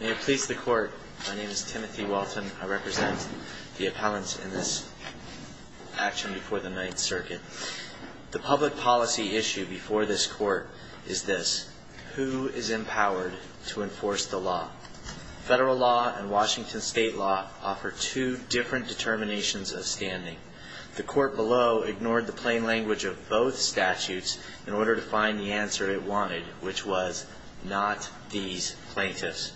May it please the court. My name is Timothy Walton. I represent the appellants in this action before the Ninth Circuit. The public policy issue before this court is this. Who is empowered to enforce the law? Federal law and Washington state law offer two different determinations of standing. The court below ignored the plain language of both statutes in order to find the answer it wanted, which was not these plaintiffs.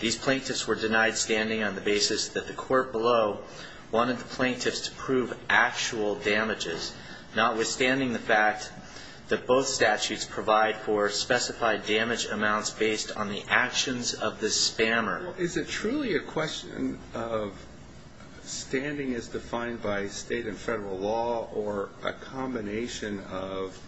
These plaintiffs were denied standing on the basis that the court below wanted the plaintiffs to prove actual damages, notwithstanding the fact that both statutes provide for specified damage amounts based on the actions of the spammer. Is it truly a question of standing as defined by state and federal law or a combination of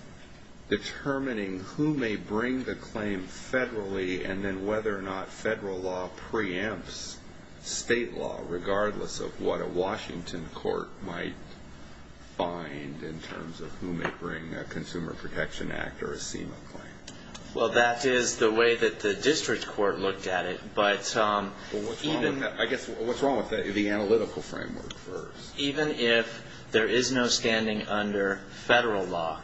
determining who may bring the claim federally and then whether or not federal law preempts state law, regardless of what a Washington court might find in terms of who may bring a Consumer Protection Act or a SEMA claim? Well, that is the way that the district court looked at it, but even I guess what's wrong with the analytical framework first? Even if there is no standing under federal law,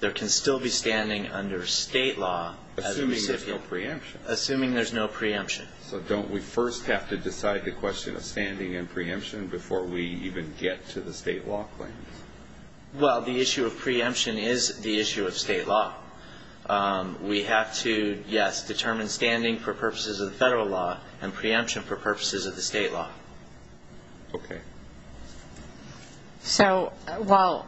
there can still be standing under state law Assuming there's no preemption. Assuming there's no preemption. So don't we first have to decide the question of standing and preemption before we even get to the state law claims? Well, the issue of preemption is the issue of state law. We have to, yes, determine standing for purposes of the federal law and preemption for purposes of the state law. Okay. So, well,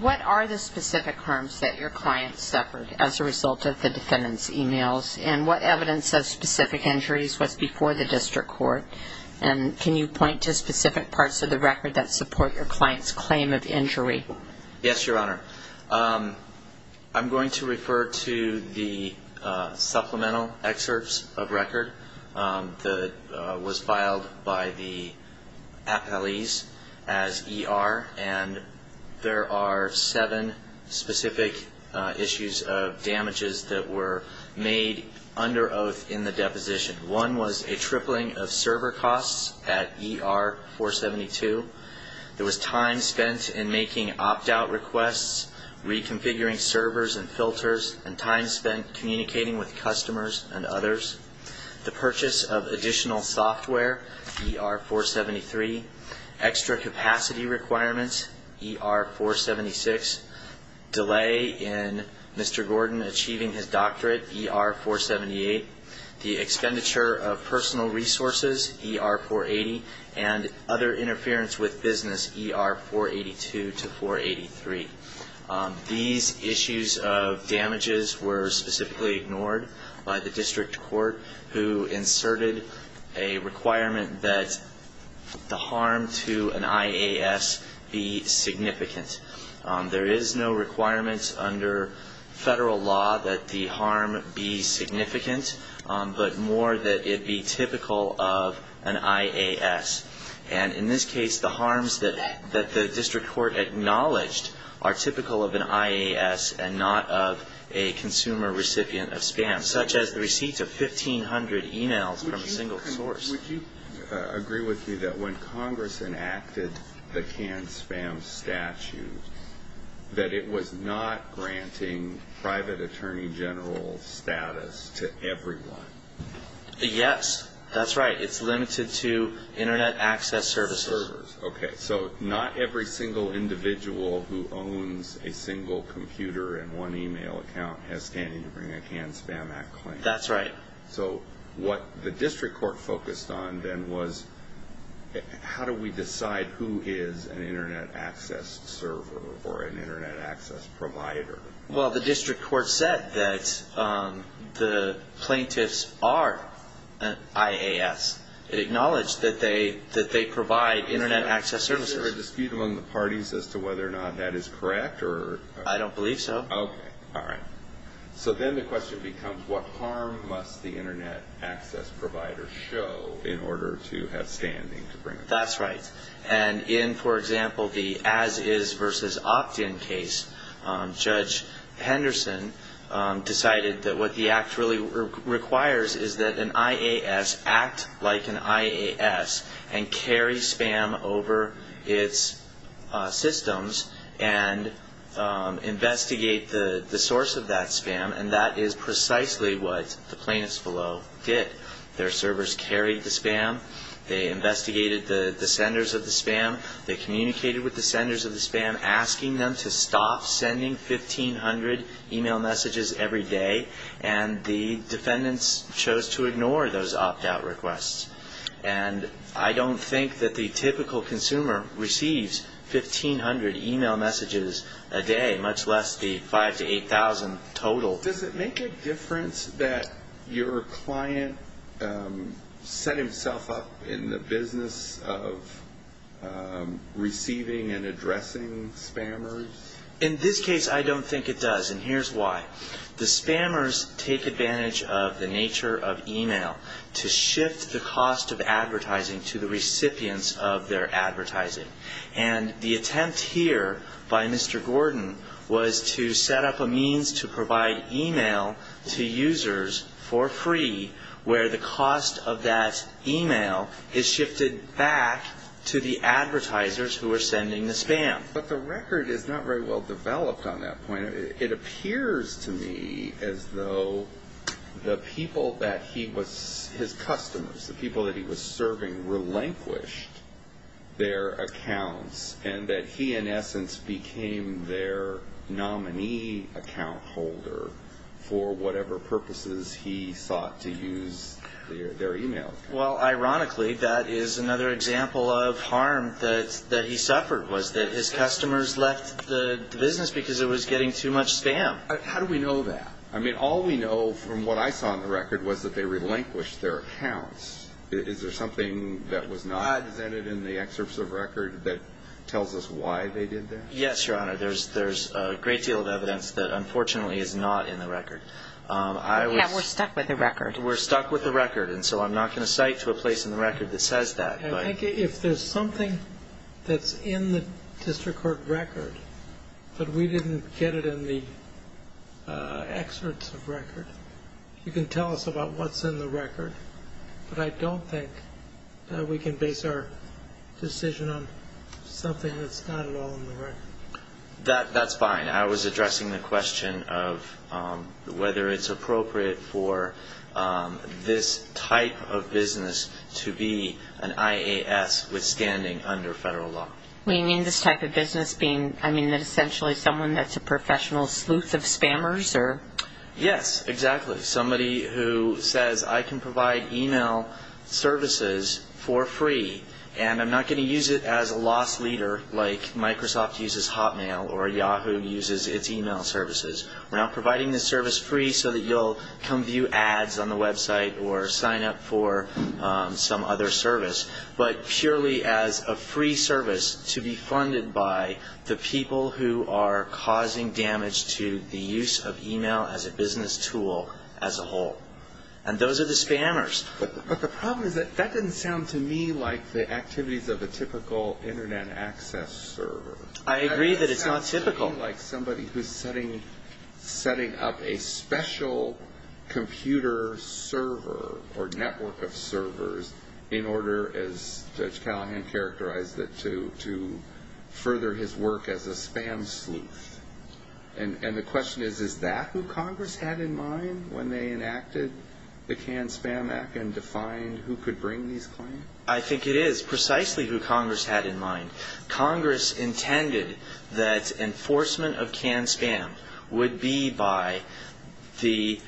what are the specific harms that your client suffered as a result of the defendant's emails and what evidence of specific injuries was before the district court? And can you point to specific parts of the record that support your client's claim of injury? Yes, Your Honor. I'm going to refer to the supplemental excerpts of record that was filed by the appellees as ER and there are seven specific issues of damages that were made under oath in the deposition. One was a tripling of server costs at ER-472. There was time spent in making opt-out requests, reconfiguring servers and filters, and time spent communicating with customers and others. The purchase of additional software, ER-473. Extra capacity requirements, ER-476. Delay in Mr. Gordon achieving his doctorate, ER-478. The expenditure of personal resources, ER-480. And other interference with business, ER-482 to 483. These issues of damages were specifically ignored by the district court, who inserted a requirement that the harm to an IAS be significant. There is no requirement under federal law that the harm be significant, but more that it be typical of an IAS. And in this case, the harms that the district court acknowledged are typical of an IAS and not of a consumer recipient of spam, such as the receipt of 1,500 e-mails from a single source. Would you agree with me that when Congress enacted the canned spam statute, that it was not granting private attorney general status to everyone? Yes, that's right. It's limited to Internet access services. Okay, so not every single individual who owns a single computer and one e-mail account has standing to bring a canned spam act claim. That's right. So what the district court focused on then was, how do we decide who is an Internet access server or an Internet access provider? Well, the district court said that the plaintiffs are IAS. It acknowledged that they provide Internet access services. Is there a dispute among the parties as to whether or not that is correct? I don't believe so. Okay, all right. So then the question becomes, what harm must the Internet access provider show in order to have standing to bring it? That's right. And in, for example, the As-Is versus Opt-In case, Judge Henderson decided that what the act really requires is that an IAS act like an IAS and carry spam over its systems and investigate the source of that spam, and that is precisely what the plaintiffs below did. Their servers carried the spam. They investigated the senders of the spam. They communicated with the senders of the spam, asking them to stop sending 1,500 e-mail messages every day, and the defendants chose to ignore those opt-out requests. And I don't think that the typical consumer receives 1,500 e-mail messages a day, much less the 5,000 to 8,000 total. Does it make a difference that your client set himself up in the business of receiving and addressing spammers? In this case, I don't think it does, and here's why. The spammers take advantage of the nature of e-mail to shift the cost of advertising to the recipients of their advertising, and the attempt here by Mr. Gordon was to set up a means to provide e-mail to users for free where the cost of that e-mail is shifted back to the advertisers who are sending the spam. But the record is not very well developed on that point. It appears to me as though the people that he was his customers, the people that he was serving, relinquished their accounts, and that he, in essence, became their nominee account holder for whatever purposes he sought to use their e-mails. Well, ironically, that is another example of harm that he suffered, was that his customers left the business because it was getting too much spam. How do we know that? I mean, all we know from what I saw on the record was that they relinquished their accounts. Is there something that was not presented in the excerpts of record that tells us why they did that? Yes, Your Honor. There's a great deal of evidence that unfortunately is not in the record. Yeah, we're stuck with the record. We're stuck with the record, and so I'm not going to cite to a place in the record that says that. I think if there's something that's in the district court record, but we didn't get it in the excerpts of record, you can tell us about what's in the record, but I don't think that we can base our decision on something that's not at all in the record. That's fine. I was addressing the question of whether it's appropriate for this type of business to be an IAS withstanding under federal law. You mean this type of business being, I mean, essentially someone that's a professional sleuth of spammers? Yes, exactly. Somebody who says, I can provide e-mail services for free, and I'm not going to use it as a loss leader like Microsoft uses Hotmail or Yahoo uses its e-mail services. We're not providing the service free so that you'll come view ads on the website or sign up for some other service, but purely as a free service to be funded by the people who are causing damage to the use of e-mail as a business tool as a whole, and those are the spammers. But the problem is that that doesn't sound to me like the activities of a typical Internet access server. I agree that it's not typical. It doesn't sound to me like somebody who's setting up a special computer server or network of servers in order, as Judge Callahan characterized it, to further his work as a spam sleuth. And the question is, is that who Congress had in mind when they enacted the CAN-SPAM Act and defined who could bring these claims? I think it is precisely who Congress had in mind. Congress intended that enforcement of CAN-SPAM would be by the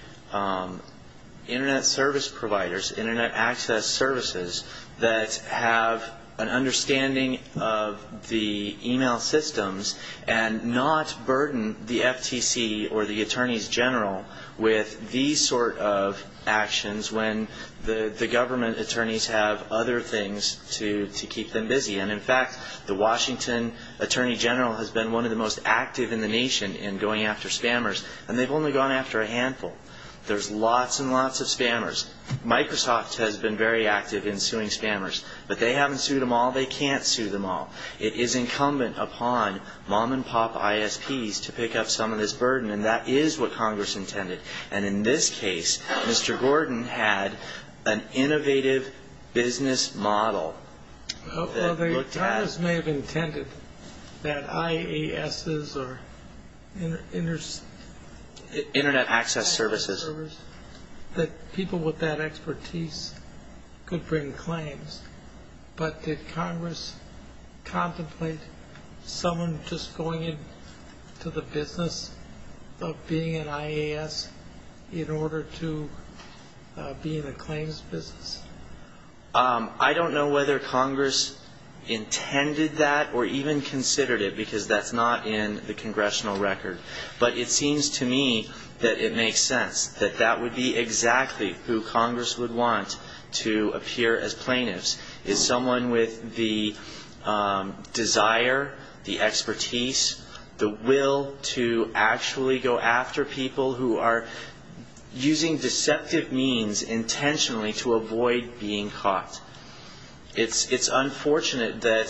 Internet service providers, Internet access services that have an understanding of the e-mail systems and not burden the FTC or the attorneys general with these sort of actions when the government attorneys have other things to keep them busy. And, in fact, the Washington attorney general has been one of the most active in the nation in going after spammers, and they've only gone after a handful. There's lots and lots of spammers. Microsoft has been very active in suing spammers. But they haven't sued them all. They can't sue them all. It is incumbent upon mom-and-pop ISPs to pick up some of this burden, and that is what Congress intended. And in this case, Mr. Gordon had an innovative business model that looked at... I don't know if that expertise could bring claims, but did Congress contemplate someone just going into the business of being an IAS in order to be in the claims business? I don't know whether Congress intended that or even considered it, because that's not in the congressional record. But it seems to me that it makes sense, that that would be exactly who Congress would want to appear as plaintiffs, is someone with the desire, the expertise, the will to actually go after people who are using deceptive means intentionally to avoid being caught. It's unfortunate that...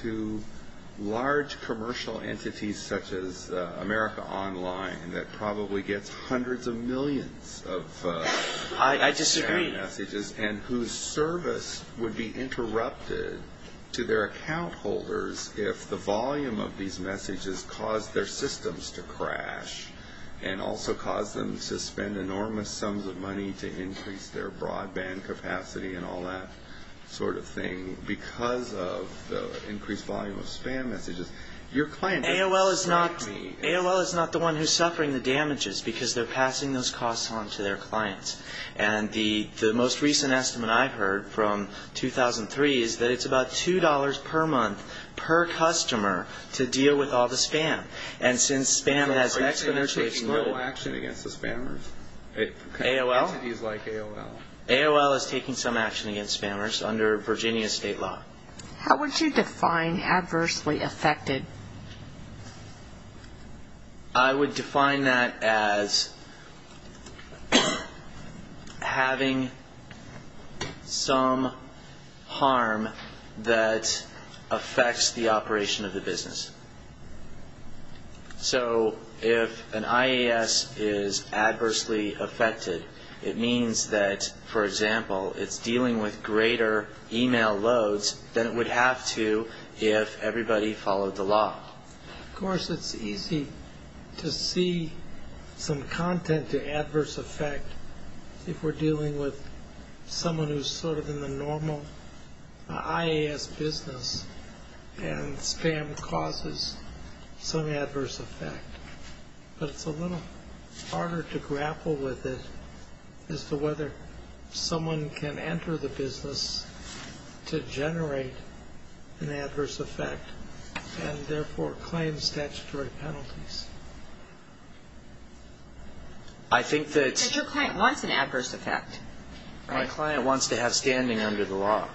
...to large commercial entities such as America Online, that probably gets hundreds of millions of... I disagree. ...and whose service would be interrupted to their account holders if the volume of these messages caused their systems to crash and also caused them to spend enormous sums of money to increase their broadband capacity and all that sort of thing, because of the increased volume of spam messages. Your client... AOL is not the one who's suffering the damages, because they're passing those costs on to their clients. And the most recent estimate I've heard from 2003 is that it's about $2 per month per customer to deal with all the spam. And since spam has exponentially... Is AOL taking no action against the spammers? AOL? Entities like AOL. AOL is taking some action against spammers under Virginia state law. How would you define adversely affected? I would define that as having some harm that affects the operation of the business. So if an IAS is adversely affected, it means that, for example, it's dealing with greater email loads than it would have to if everybody followed the law. Of course it's easy to see some content to adverse effect if we're dealing with someone who's sort of in the normal IAS business and spam causes some adverse effect. But it's a little harder to grapple with it as to whether someone can enter the business to generate an adverse effect and therefore claim statutory penalties. I think that... But your client wants an adverse effect. My client wants to have standing under the law.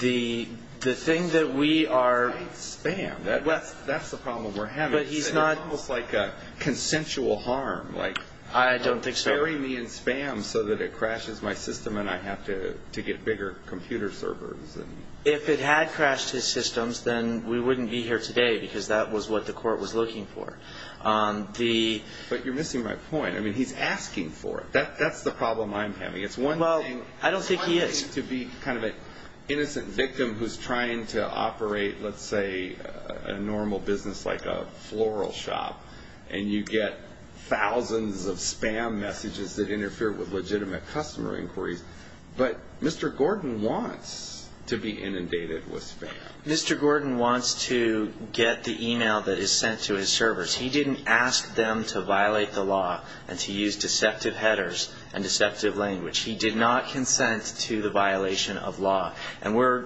The thing that we are... Spam, that's the problem we're having. But he's not... It's almost like a consensual harm, like... I don't think so. Sparing me in spam so that it crashes my system and I have to get bigger computer servers. If it had crashed his systems, then we wouldn't be here today because that was what the court was looking for. But you're missing my point. I mean, he's asking for it. That's the problem I'm having. It's one thing... Well, I don't think he is. He seems to be kind of an innocent victim who's trying to operate, let's say, a normal business like a floral shop. And you get thousands of spam messages that interfere with legitimate customer inquiries. But Mr. Gordon wants to be inundated with spam. Mr. Gordon wants to get the email that is sent to his servers. He didn't ask them to violate the law and to use deceptive headers and deceptive language. He did not consent to the violation of law. And we're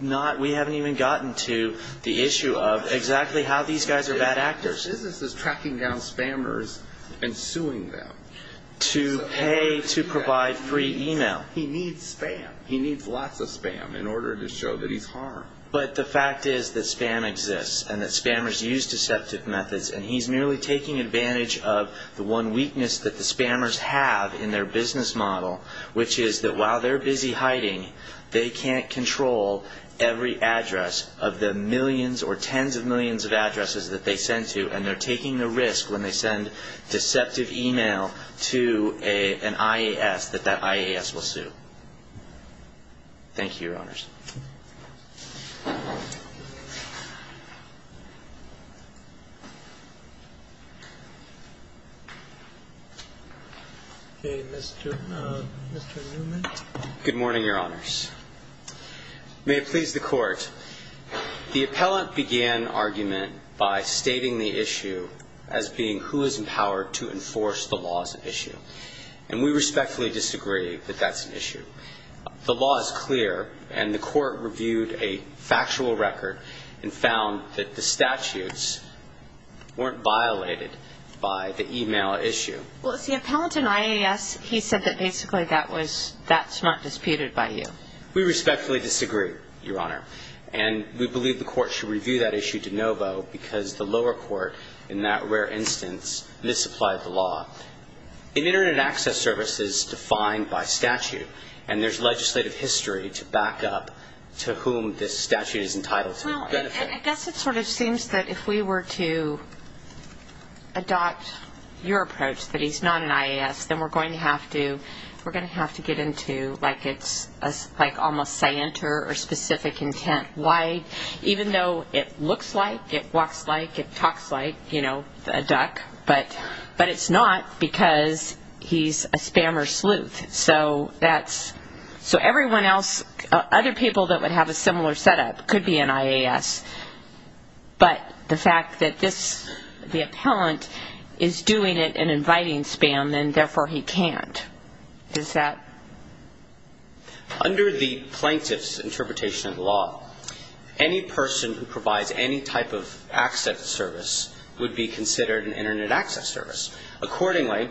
not... We haven't even gotten to the issue of exactly how these guys are bad actors. His business is tracking down spammers and suing them. To pay to provide free email. He needs spam. He needs lots of spam in order to show that he's harmed. But the fact is that spam exists and that spammers use deceptive methods. And he's merely taking advantage of the one weakness that the spammers have in their business model. Which is that while they're busy hiding, they can't control every address of the millions or tens of millions of addresses that they send to. And they're taking the risk when they send deceptive email to an IAS that that IAS will sue. Thank you, Your Honors. Okay, Mr. Newman. Good morning, Your Honors. May it please the Court. The appellant began argument by stating the issue as being who is empowered to enforce the laws at issue. And we respectfully disagree that that's an issue. The law is clear and the Court reviewed a factual record and found that the statutes, weren't violated by the email issue. Well, see, appellant in IAS, he said that basically that was, that's not disputed by you. We respectfully disagree, Your Honor. And we believe the Court should review that issue de novo because the lower court, in that rare instance, misapplied the law. An Internet access service is defined by statute. And there's legislative history to back up to whom this statute is entitled to benefit. Well, I guess it sort of seems that if we were to adopt your approach that he's not an IAS, then we're going to have to get into like it's almost scienter or specific intent. Why? Even though it looks like, it walks like, it talks like, you know, a duck, but it's not because he's a spammer sleuth. So that's, so everyone else, other people that would have a similar setup could be an IAS. But the fact that this, the appellant is doing it and inviting spam and therefore he can't, is that? Under the plaintiff's interpretation of the law, any person who provides any type of access service would be considered an Internet access service. Accordingly,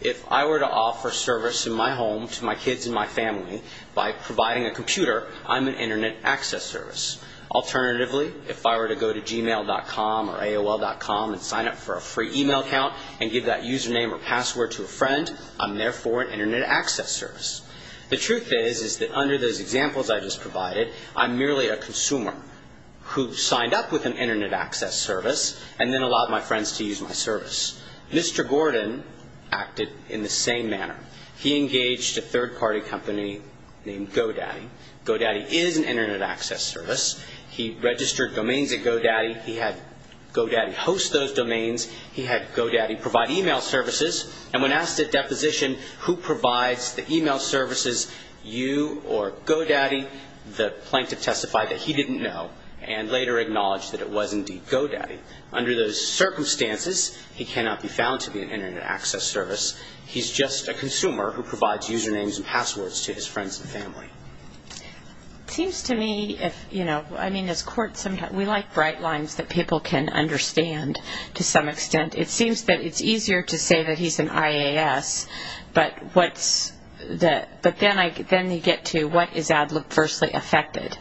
if I were to offer service in my home to my kids and my family by providing a computer, I'm an Internet access service. Alternatively, if I were to go to Gmail.com or AOL.com and sign up for a free e-mail account and give that username or password to a friend, I'm therefore an Internet access service. The truth is, is that under those examples I just provided, I'm merely a consumer who signed up with an Internet access service and then allowed my friends to use my service. Mr. Gordon acted in the same manner. He engaged a third-party company named GoDaddy. GoDaddy is an Internet access service. He registered domains at GoDaddy. He had GoDaddy host those domains. He had GoDaddy provide e-mail services. And when asked at deposition who provides the e-mail services, you or GoDaddy, the plaintiff testified that he didn't know and later acknowledged that it was indeed GoDaddy. Under those circumstances, he cannot be found to be an Internet access service. He's just a consumer who provides usernames and passwords to his friends and family. It seems to me if, you know, I mean, as courts, we like bright lines that people can understand to some extent. It seems that it's easier to say that he's an IAS, but then you get to what is adversely affected.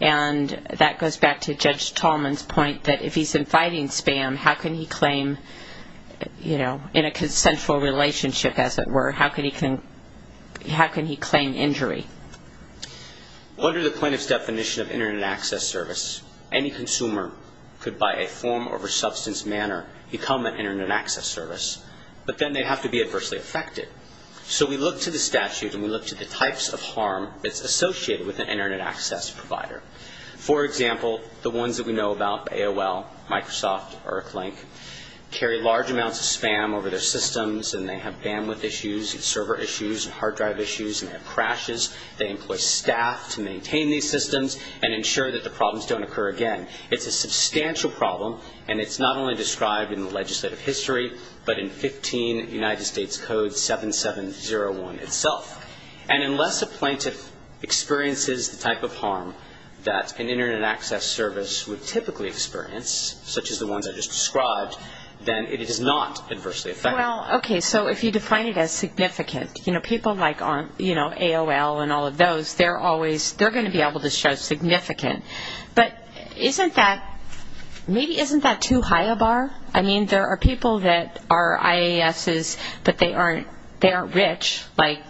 And that goes back to Judge Tallman's point that if he's inviting spam, how can he claim, you know, in a consensual relationship, as it were, how can he claim injury? Under the plaintiff's definition of Internet access service, any consumer could, by a form over substance manner, become an Internet access service. But then they have to be adversely affected. So we look to the statute and we look to the types of harm that's associated with an Internet access provider. For example, the ones that we know about, AOL, Microsoft, ErcLink, carry large amounts of spam over their systems and they have bandwidth issues and server issues and hard drive issues and have crashes. They employ staff to maintain these systems and ensure that the problems don't occur again. It's a substantial problem and it's not only described in the legislative history, but in 15 United States Code 7701 itself. And unless a plaintiff experiences the type of harm that an Internet access service would typically experience, such as the ones I just described, then it is not adversely affected. Well, okay, so if you define it as significant, people like AOL and all of those, they're going to be able to show significant. But maybe isn't that too high a bar? I mean, there are people that are IASs, but they aren't rich, like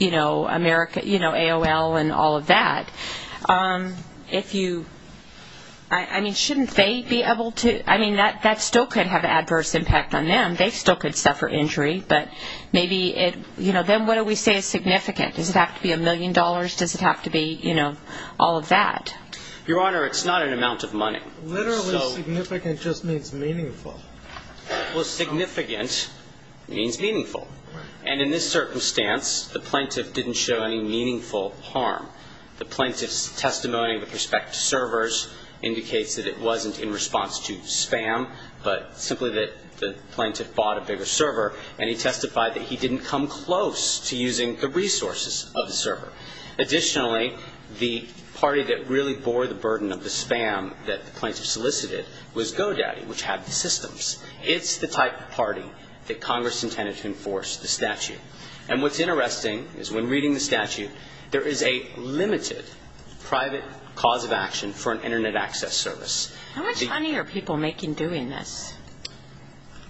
AOL and all of that. I mean, shouldn't they be able to? I mean, that still could have adverse impact on them. They still could suffer injury, but maybe it, you know, then what do we say is significant? Does it have to be a million dollars? Does it have to be, you know, all of that? Your Honor, it's not an amount of money. Literally significant just means meaningful. Well, significant means meaningful. And in this circumstance, the plaintiff didn't show any meaningful harm. The plaintiff's testimony with respect to servers indicates that it wasn't in response to spam, but simply that the plaintiff bought a bigger server, and he testified that he didn't come close to using the resources of the server. Additionally, the party that really bore the burden of the spam that the plaintiff solicited was GoDaddy, which had the systems. It's the type of party that Congress intended to enforce the statute. And what's interesting is when reading the statute, there is a limited private cause of action for an Internet access service. How much money are people making doing this?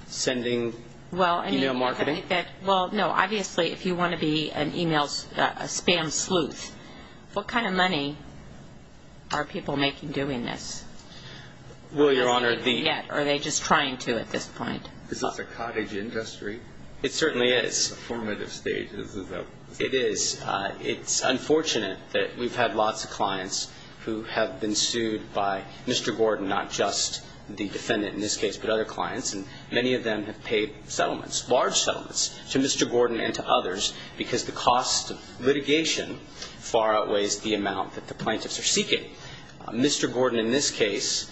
Sending e-mail marketing? Well, no, obviously if you want to be an e-mail spam sleuth, what kind of money are people making doing this? Well, Your Honor, the... Or are they just trying to at this point? Is this a cottage industry? It certainly is. It's a formative stage. It is. It's unfortunate that we've had lots of clients who have been sued by Mr. Gordon, not just the defendant in this case, but other clients, and many of them have paid settlements, large settlements, to Mr. Gordon and to others, because the cost of litigation far outweighs the amount that the plaintiffs are seeking. Mr. Gordon in this case,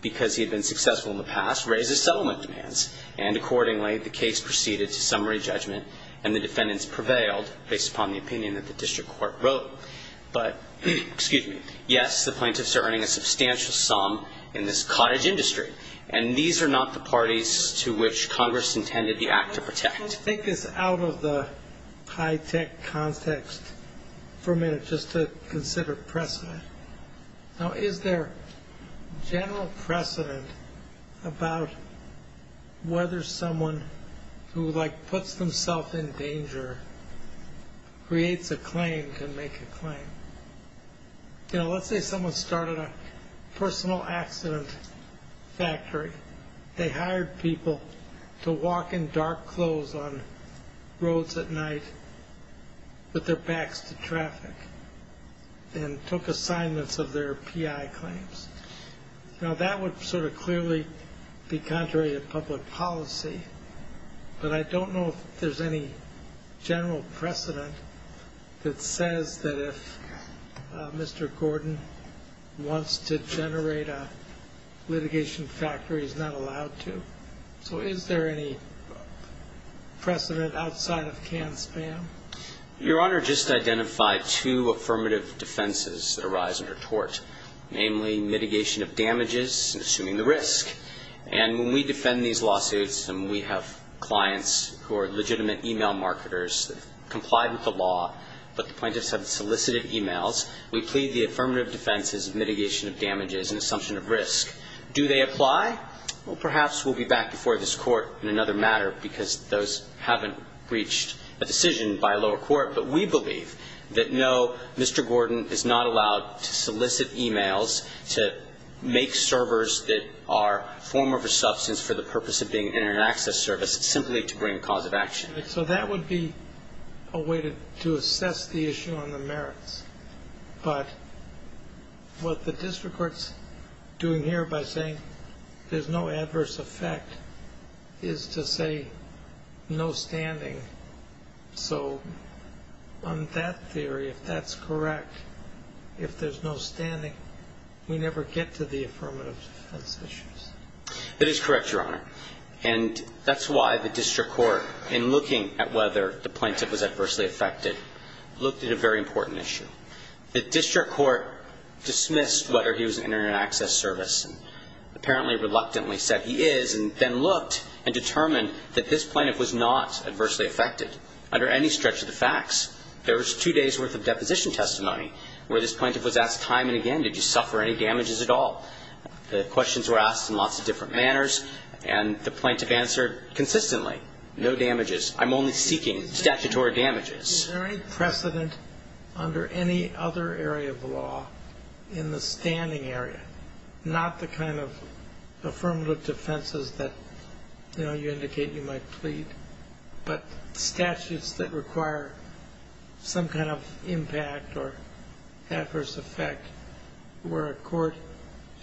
because he had been successful in the past, raises settlement demands, and accordingly the case proceeded to summary judgment, and the defendants prevailed based upon the opinion that the district court wrote. But, excuse me, yes, the plaintiffs are earning a substantial sum in this cottage industry, and these are not the parties to which Congress intended the act to protect. Let's take this out of the high-tech context for a minute just to consider precedent. Now, is there general precedent about whether someone who, like, puts themselves in danger, creates a claim to make a claim? You know, let's say someone started a personal accident factory. They hired people to walk in dark clothes on roads at night with their backs to traffic and took assignments of their PI claims. Now, that would sort of clearly be contrary to public policy, but I don't know if there's any general precedent that says that if Mr. Gordon wants to generate a litigation factory, he's not allowed to. So is there any precedent outside of canned spam? Your Honor, just identified two affirmative defenses that arise under tort, namely mitigation of damages and assuming the risk. And when we defend these lawsuits and we have clients who are legitimate e-mail marketers that have complied with the law, but the plaintiffs have solicited e-mails, we plead the affirmative defenses of mitigation of damages and assumption of risk. Do they apply? Well, perhaps we'll be back before this Court in another matter because those haven't reached a decision by a lower court. But we believe that, no, Mr. Gordon is not allowed to solicit e-mails to make servers that are a form of a substance for the purpose of being in an access service simply to bring a cause of action. So that would be a way to assess the issue on the merits. But what the district court's doing here by saying there's no adverse effect is to say no standing. So on that theory, if that's correct, if there's no standing, we never get to the affirmative defense issues. That is correct, Your Honor. And that's why the district court in looking at whether the plaintiff was adversely affected looked at a very important issue. The district court dismissed whether he was in an access service and apparently reluctantly said he is and then looked and determined that this plaintiff was not adversely affected under any stretch of the facts. There was two days' worth of deposition testimony where this plaintiff was asked time and again, did you suffer any damages at all? The questions were asked in lots of different manners, and the plaintiff answered consistently, no damages. I'm only seeking statutory damages. Is there any precedent under any other area of law in the standing area, not the kind of affirmative defenses that, you know, you indicate you might plead, but statutes that require some kind of impact or adverse effect where a court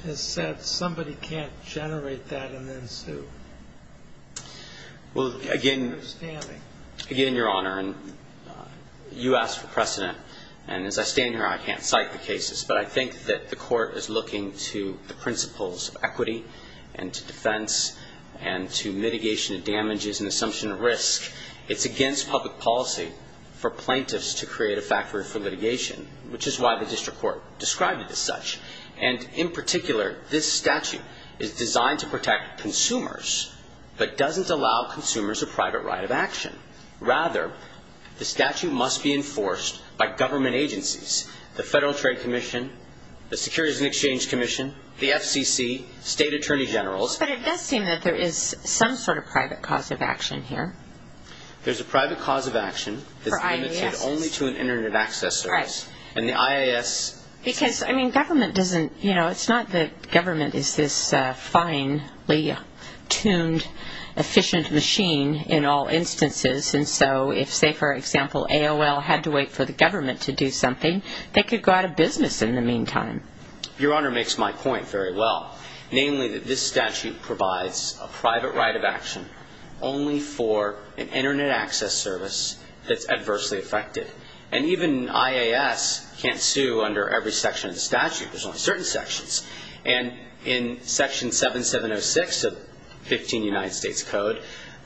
has said somebody can't generate that and then sue? Well, again, Your Honor, you asked for precedent. And as I stand here, I can't cite the cases, but I think that the court is looking to the principles of equity and to defense and to mitigation of damages and assumption of risk. It's against public policy for plaintiffs to create a factory for litigation, which is why the district court described it as such. And in particular, this statute is designed to protect consumers but doesn't allow consumers a private right of action. Rather, the statute must be enforced by government agencies, the Federal Trade Commission, the Securities and Exchange Commission, the FCC, state attorney generals. But it does seem that there is some sort of private cause of action here. There's a private cause of action that's limited only to an Internet access service. Because, I mean, government doesn't, you know, it's not that government is this finely tuned, efficient machine in all instances. And so if, say, for example, AOL had to wait for the government to do something, they could go out of business in the meantime. Your Honor makes my point very well, namely that this statute provides a private right of action only for an Internet access service that's adversely affected. And even IAS can't sue under every section of the statute. There's only certain sections. And in Section 7706 of 15 United States Code,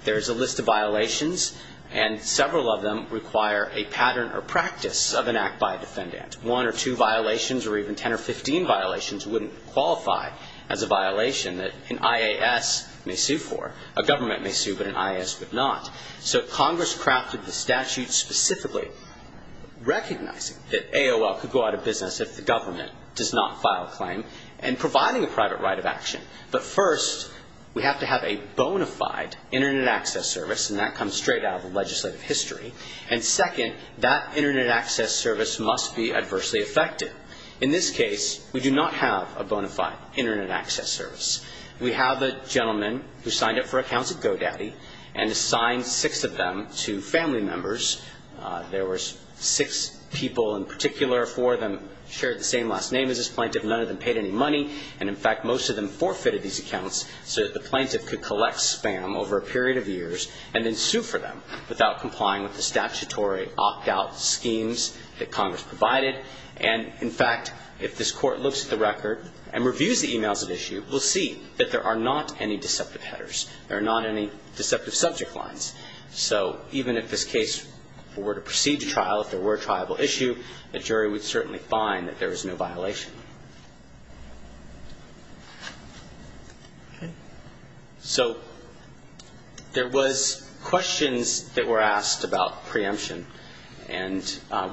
there is a list of violations, and several of them require a pattern or practice of an act by a defendant. One or two violations, or even 10 or 15 violations, wouldn't qualify as a violation that an IAS may sue for. A government may sue, but an IAS would not. So Congress crafted the statute specifically recognizing that AOL could go out of business if the government does not file a claim and providing a private right of action. But first, we have to have a bona fide Internet access service, and that comes straight out of the legislative history. And second, that Internet access service must be adversely affected. In this case, we do not have a bona fide Internet access service. We have a gentleman who signed up for accounts at GoDaddy and assigned six of them to family members. There were six people in particular, four of them shared the same last name as this plaintiff, none of them paid any money, and, in fact, most of them forfeited these accounts so that the plaintiff could collect spam over a period of years and then sue for them without complying with the statutory opt-out schemes that Congress provided. And, in fact, if this Court looks at the record and reviews the emails at issue, we'll see that there are not any deceptive headers. There are not any deceptive subject lines. So even if this case were to proceed to trial, if there were a triable issue, the jury would certainly find that there was no violation. Okay. So there was questions that were asked about preemption, and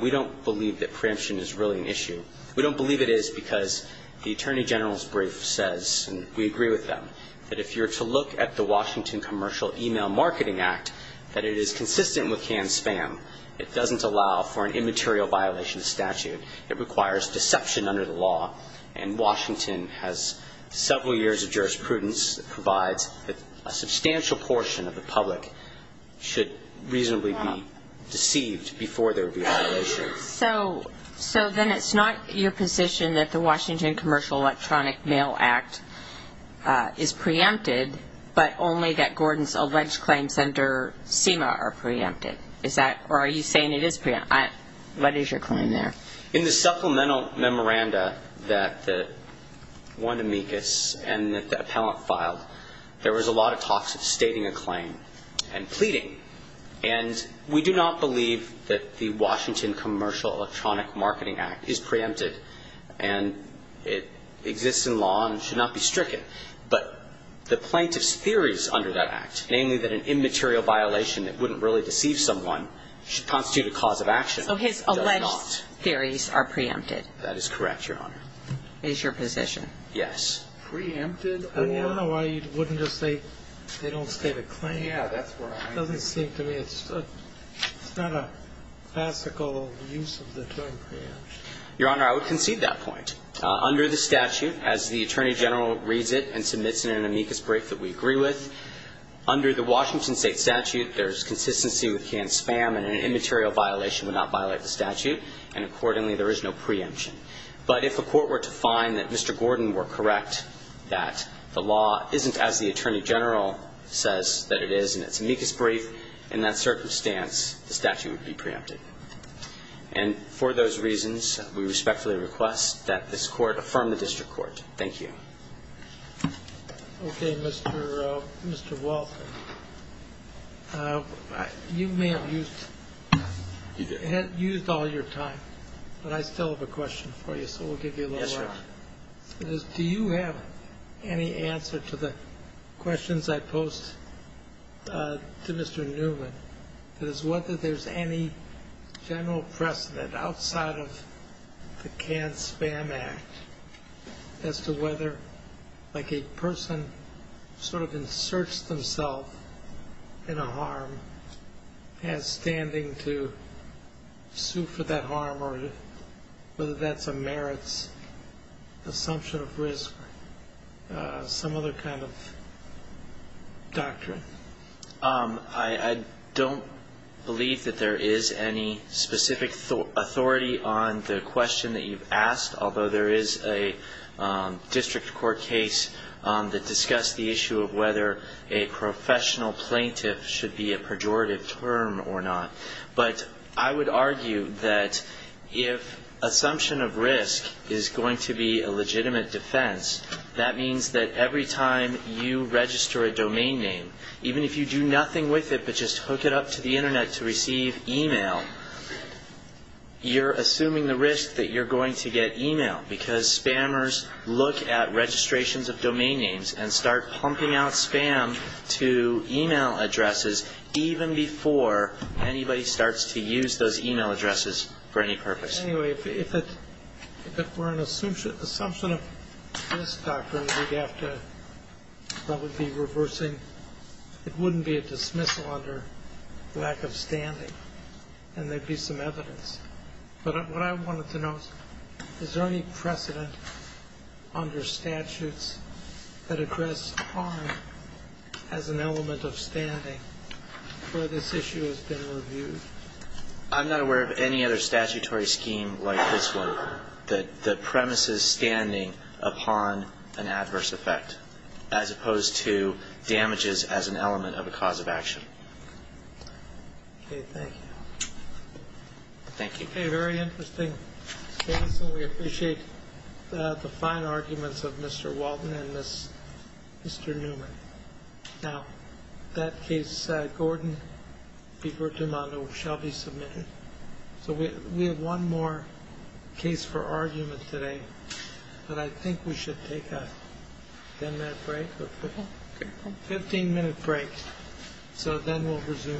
we don't believe that preemption is really an issue. We don't believe it is because the Attorney General's brief says, and we agree with them, that if you were to look at the Washington Commercial Email Marketing Act, that it is consistent with canned spam. It doesn't allow for an immaterial violation of statute. It requires deception under the law, and Washington has several years of jurisprudence that provides that a substantial portion of the public should reasonably be deceived before there would be a violation. So then it's not your position that the Washington Commercial Electronic Mail Act is preempted, but only that Gordon's alleged claims under SEMA are preempted? Or are you saying it is preempted? What is your claim there? In the supplemental memoranda that Juan Dominguez and the appellant filed, there was a lot of talk of stating a claim and pleading, and we do not believe that the Washington Commercial Electronic Marketing Act is preempted, and it exists in law and should not be stricken. But the plaintiff's theories under that act, namely that an immaterial violation that wouldn't really deceive someone should constitute a cause of action, does not. So his alleged theories are preempted? That is correct, Your Honor. Is your position? Yes. Preempted? I don't know why you wouldn't just say they don't state a claim. It doesn't seem to me it's not a classical use of the term preemption. Your Honor, I would concede that point. Under the statute, as the Attorney General reads it and submits it in an amicus brief that we agree with, under the Washington State statute, there's consistency with canned spam, and an immaterial violation would not violate the statute, and accordingly there is no preemption. But if a court were to find that Mr. Gordon were correct, that the law isn't as the Attorney General says that it is in its amicus brief, in that circumstance the statute would be preempted. And for those reasons, we respectfully request that this Court affirm the district court. Thank you. Okay. Mr. Walton, you may have used all your time, but I still have a question for you, so we'll give you a little time. Yes, Your Honor. Do you have any answer to the questions I posed to Mr. Newman? That is, whether there's any general precedent outside of the Canned Spam Act as to whether, like, a person sort of inserts themselves in a harm and has standing to sue for that harm, or whether that's a merits assumption of risk or some other kind of doctrine? I don't believe that there is any specific authority on the question that you've asked, although there is a district court case that discussed the issue of whether a professional plaintiff should be a pejorative term or not. But I would argue that if assumption of risk is going to be a legitimate defense, that means that every time you register a domain name, even if you do nothing with it but just hook it up to the Internet to receive email, you're assuming the risk that you're going to get email, because spammers look at registrations of domain names and start pumping out spam to email addresses even before anybody starts to use those email addresses for any purpose. Anyway, if it were an assumption of risk doctrine, we'd have to probably be reversing. It wouldn't be a dismissal under lack of standing, and there'd be some evidence. But what I wanted to know is, is there any precedent under statutes that address harm as an element of standing where this issue has been reviewed? I'm not aware of any other statutory scheme like this one, that premises standing upon an adverse effect, as opposed to damages as an element of a cause of action. Okay, thank you. Thank you. Okay, very interesting case, and we appreciate the fine arguments of Mr. Walton and Mr. Newman. Now, that case, Gordon v. Demando, shall be submitted. So we have one more case for argument today, but I think we should take a 10-minute break or 15-minute break. So then we'll resume.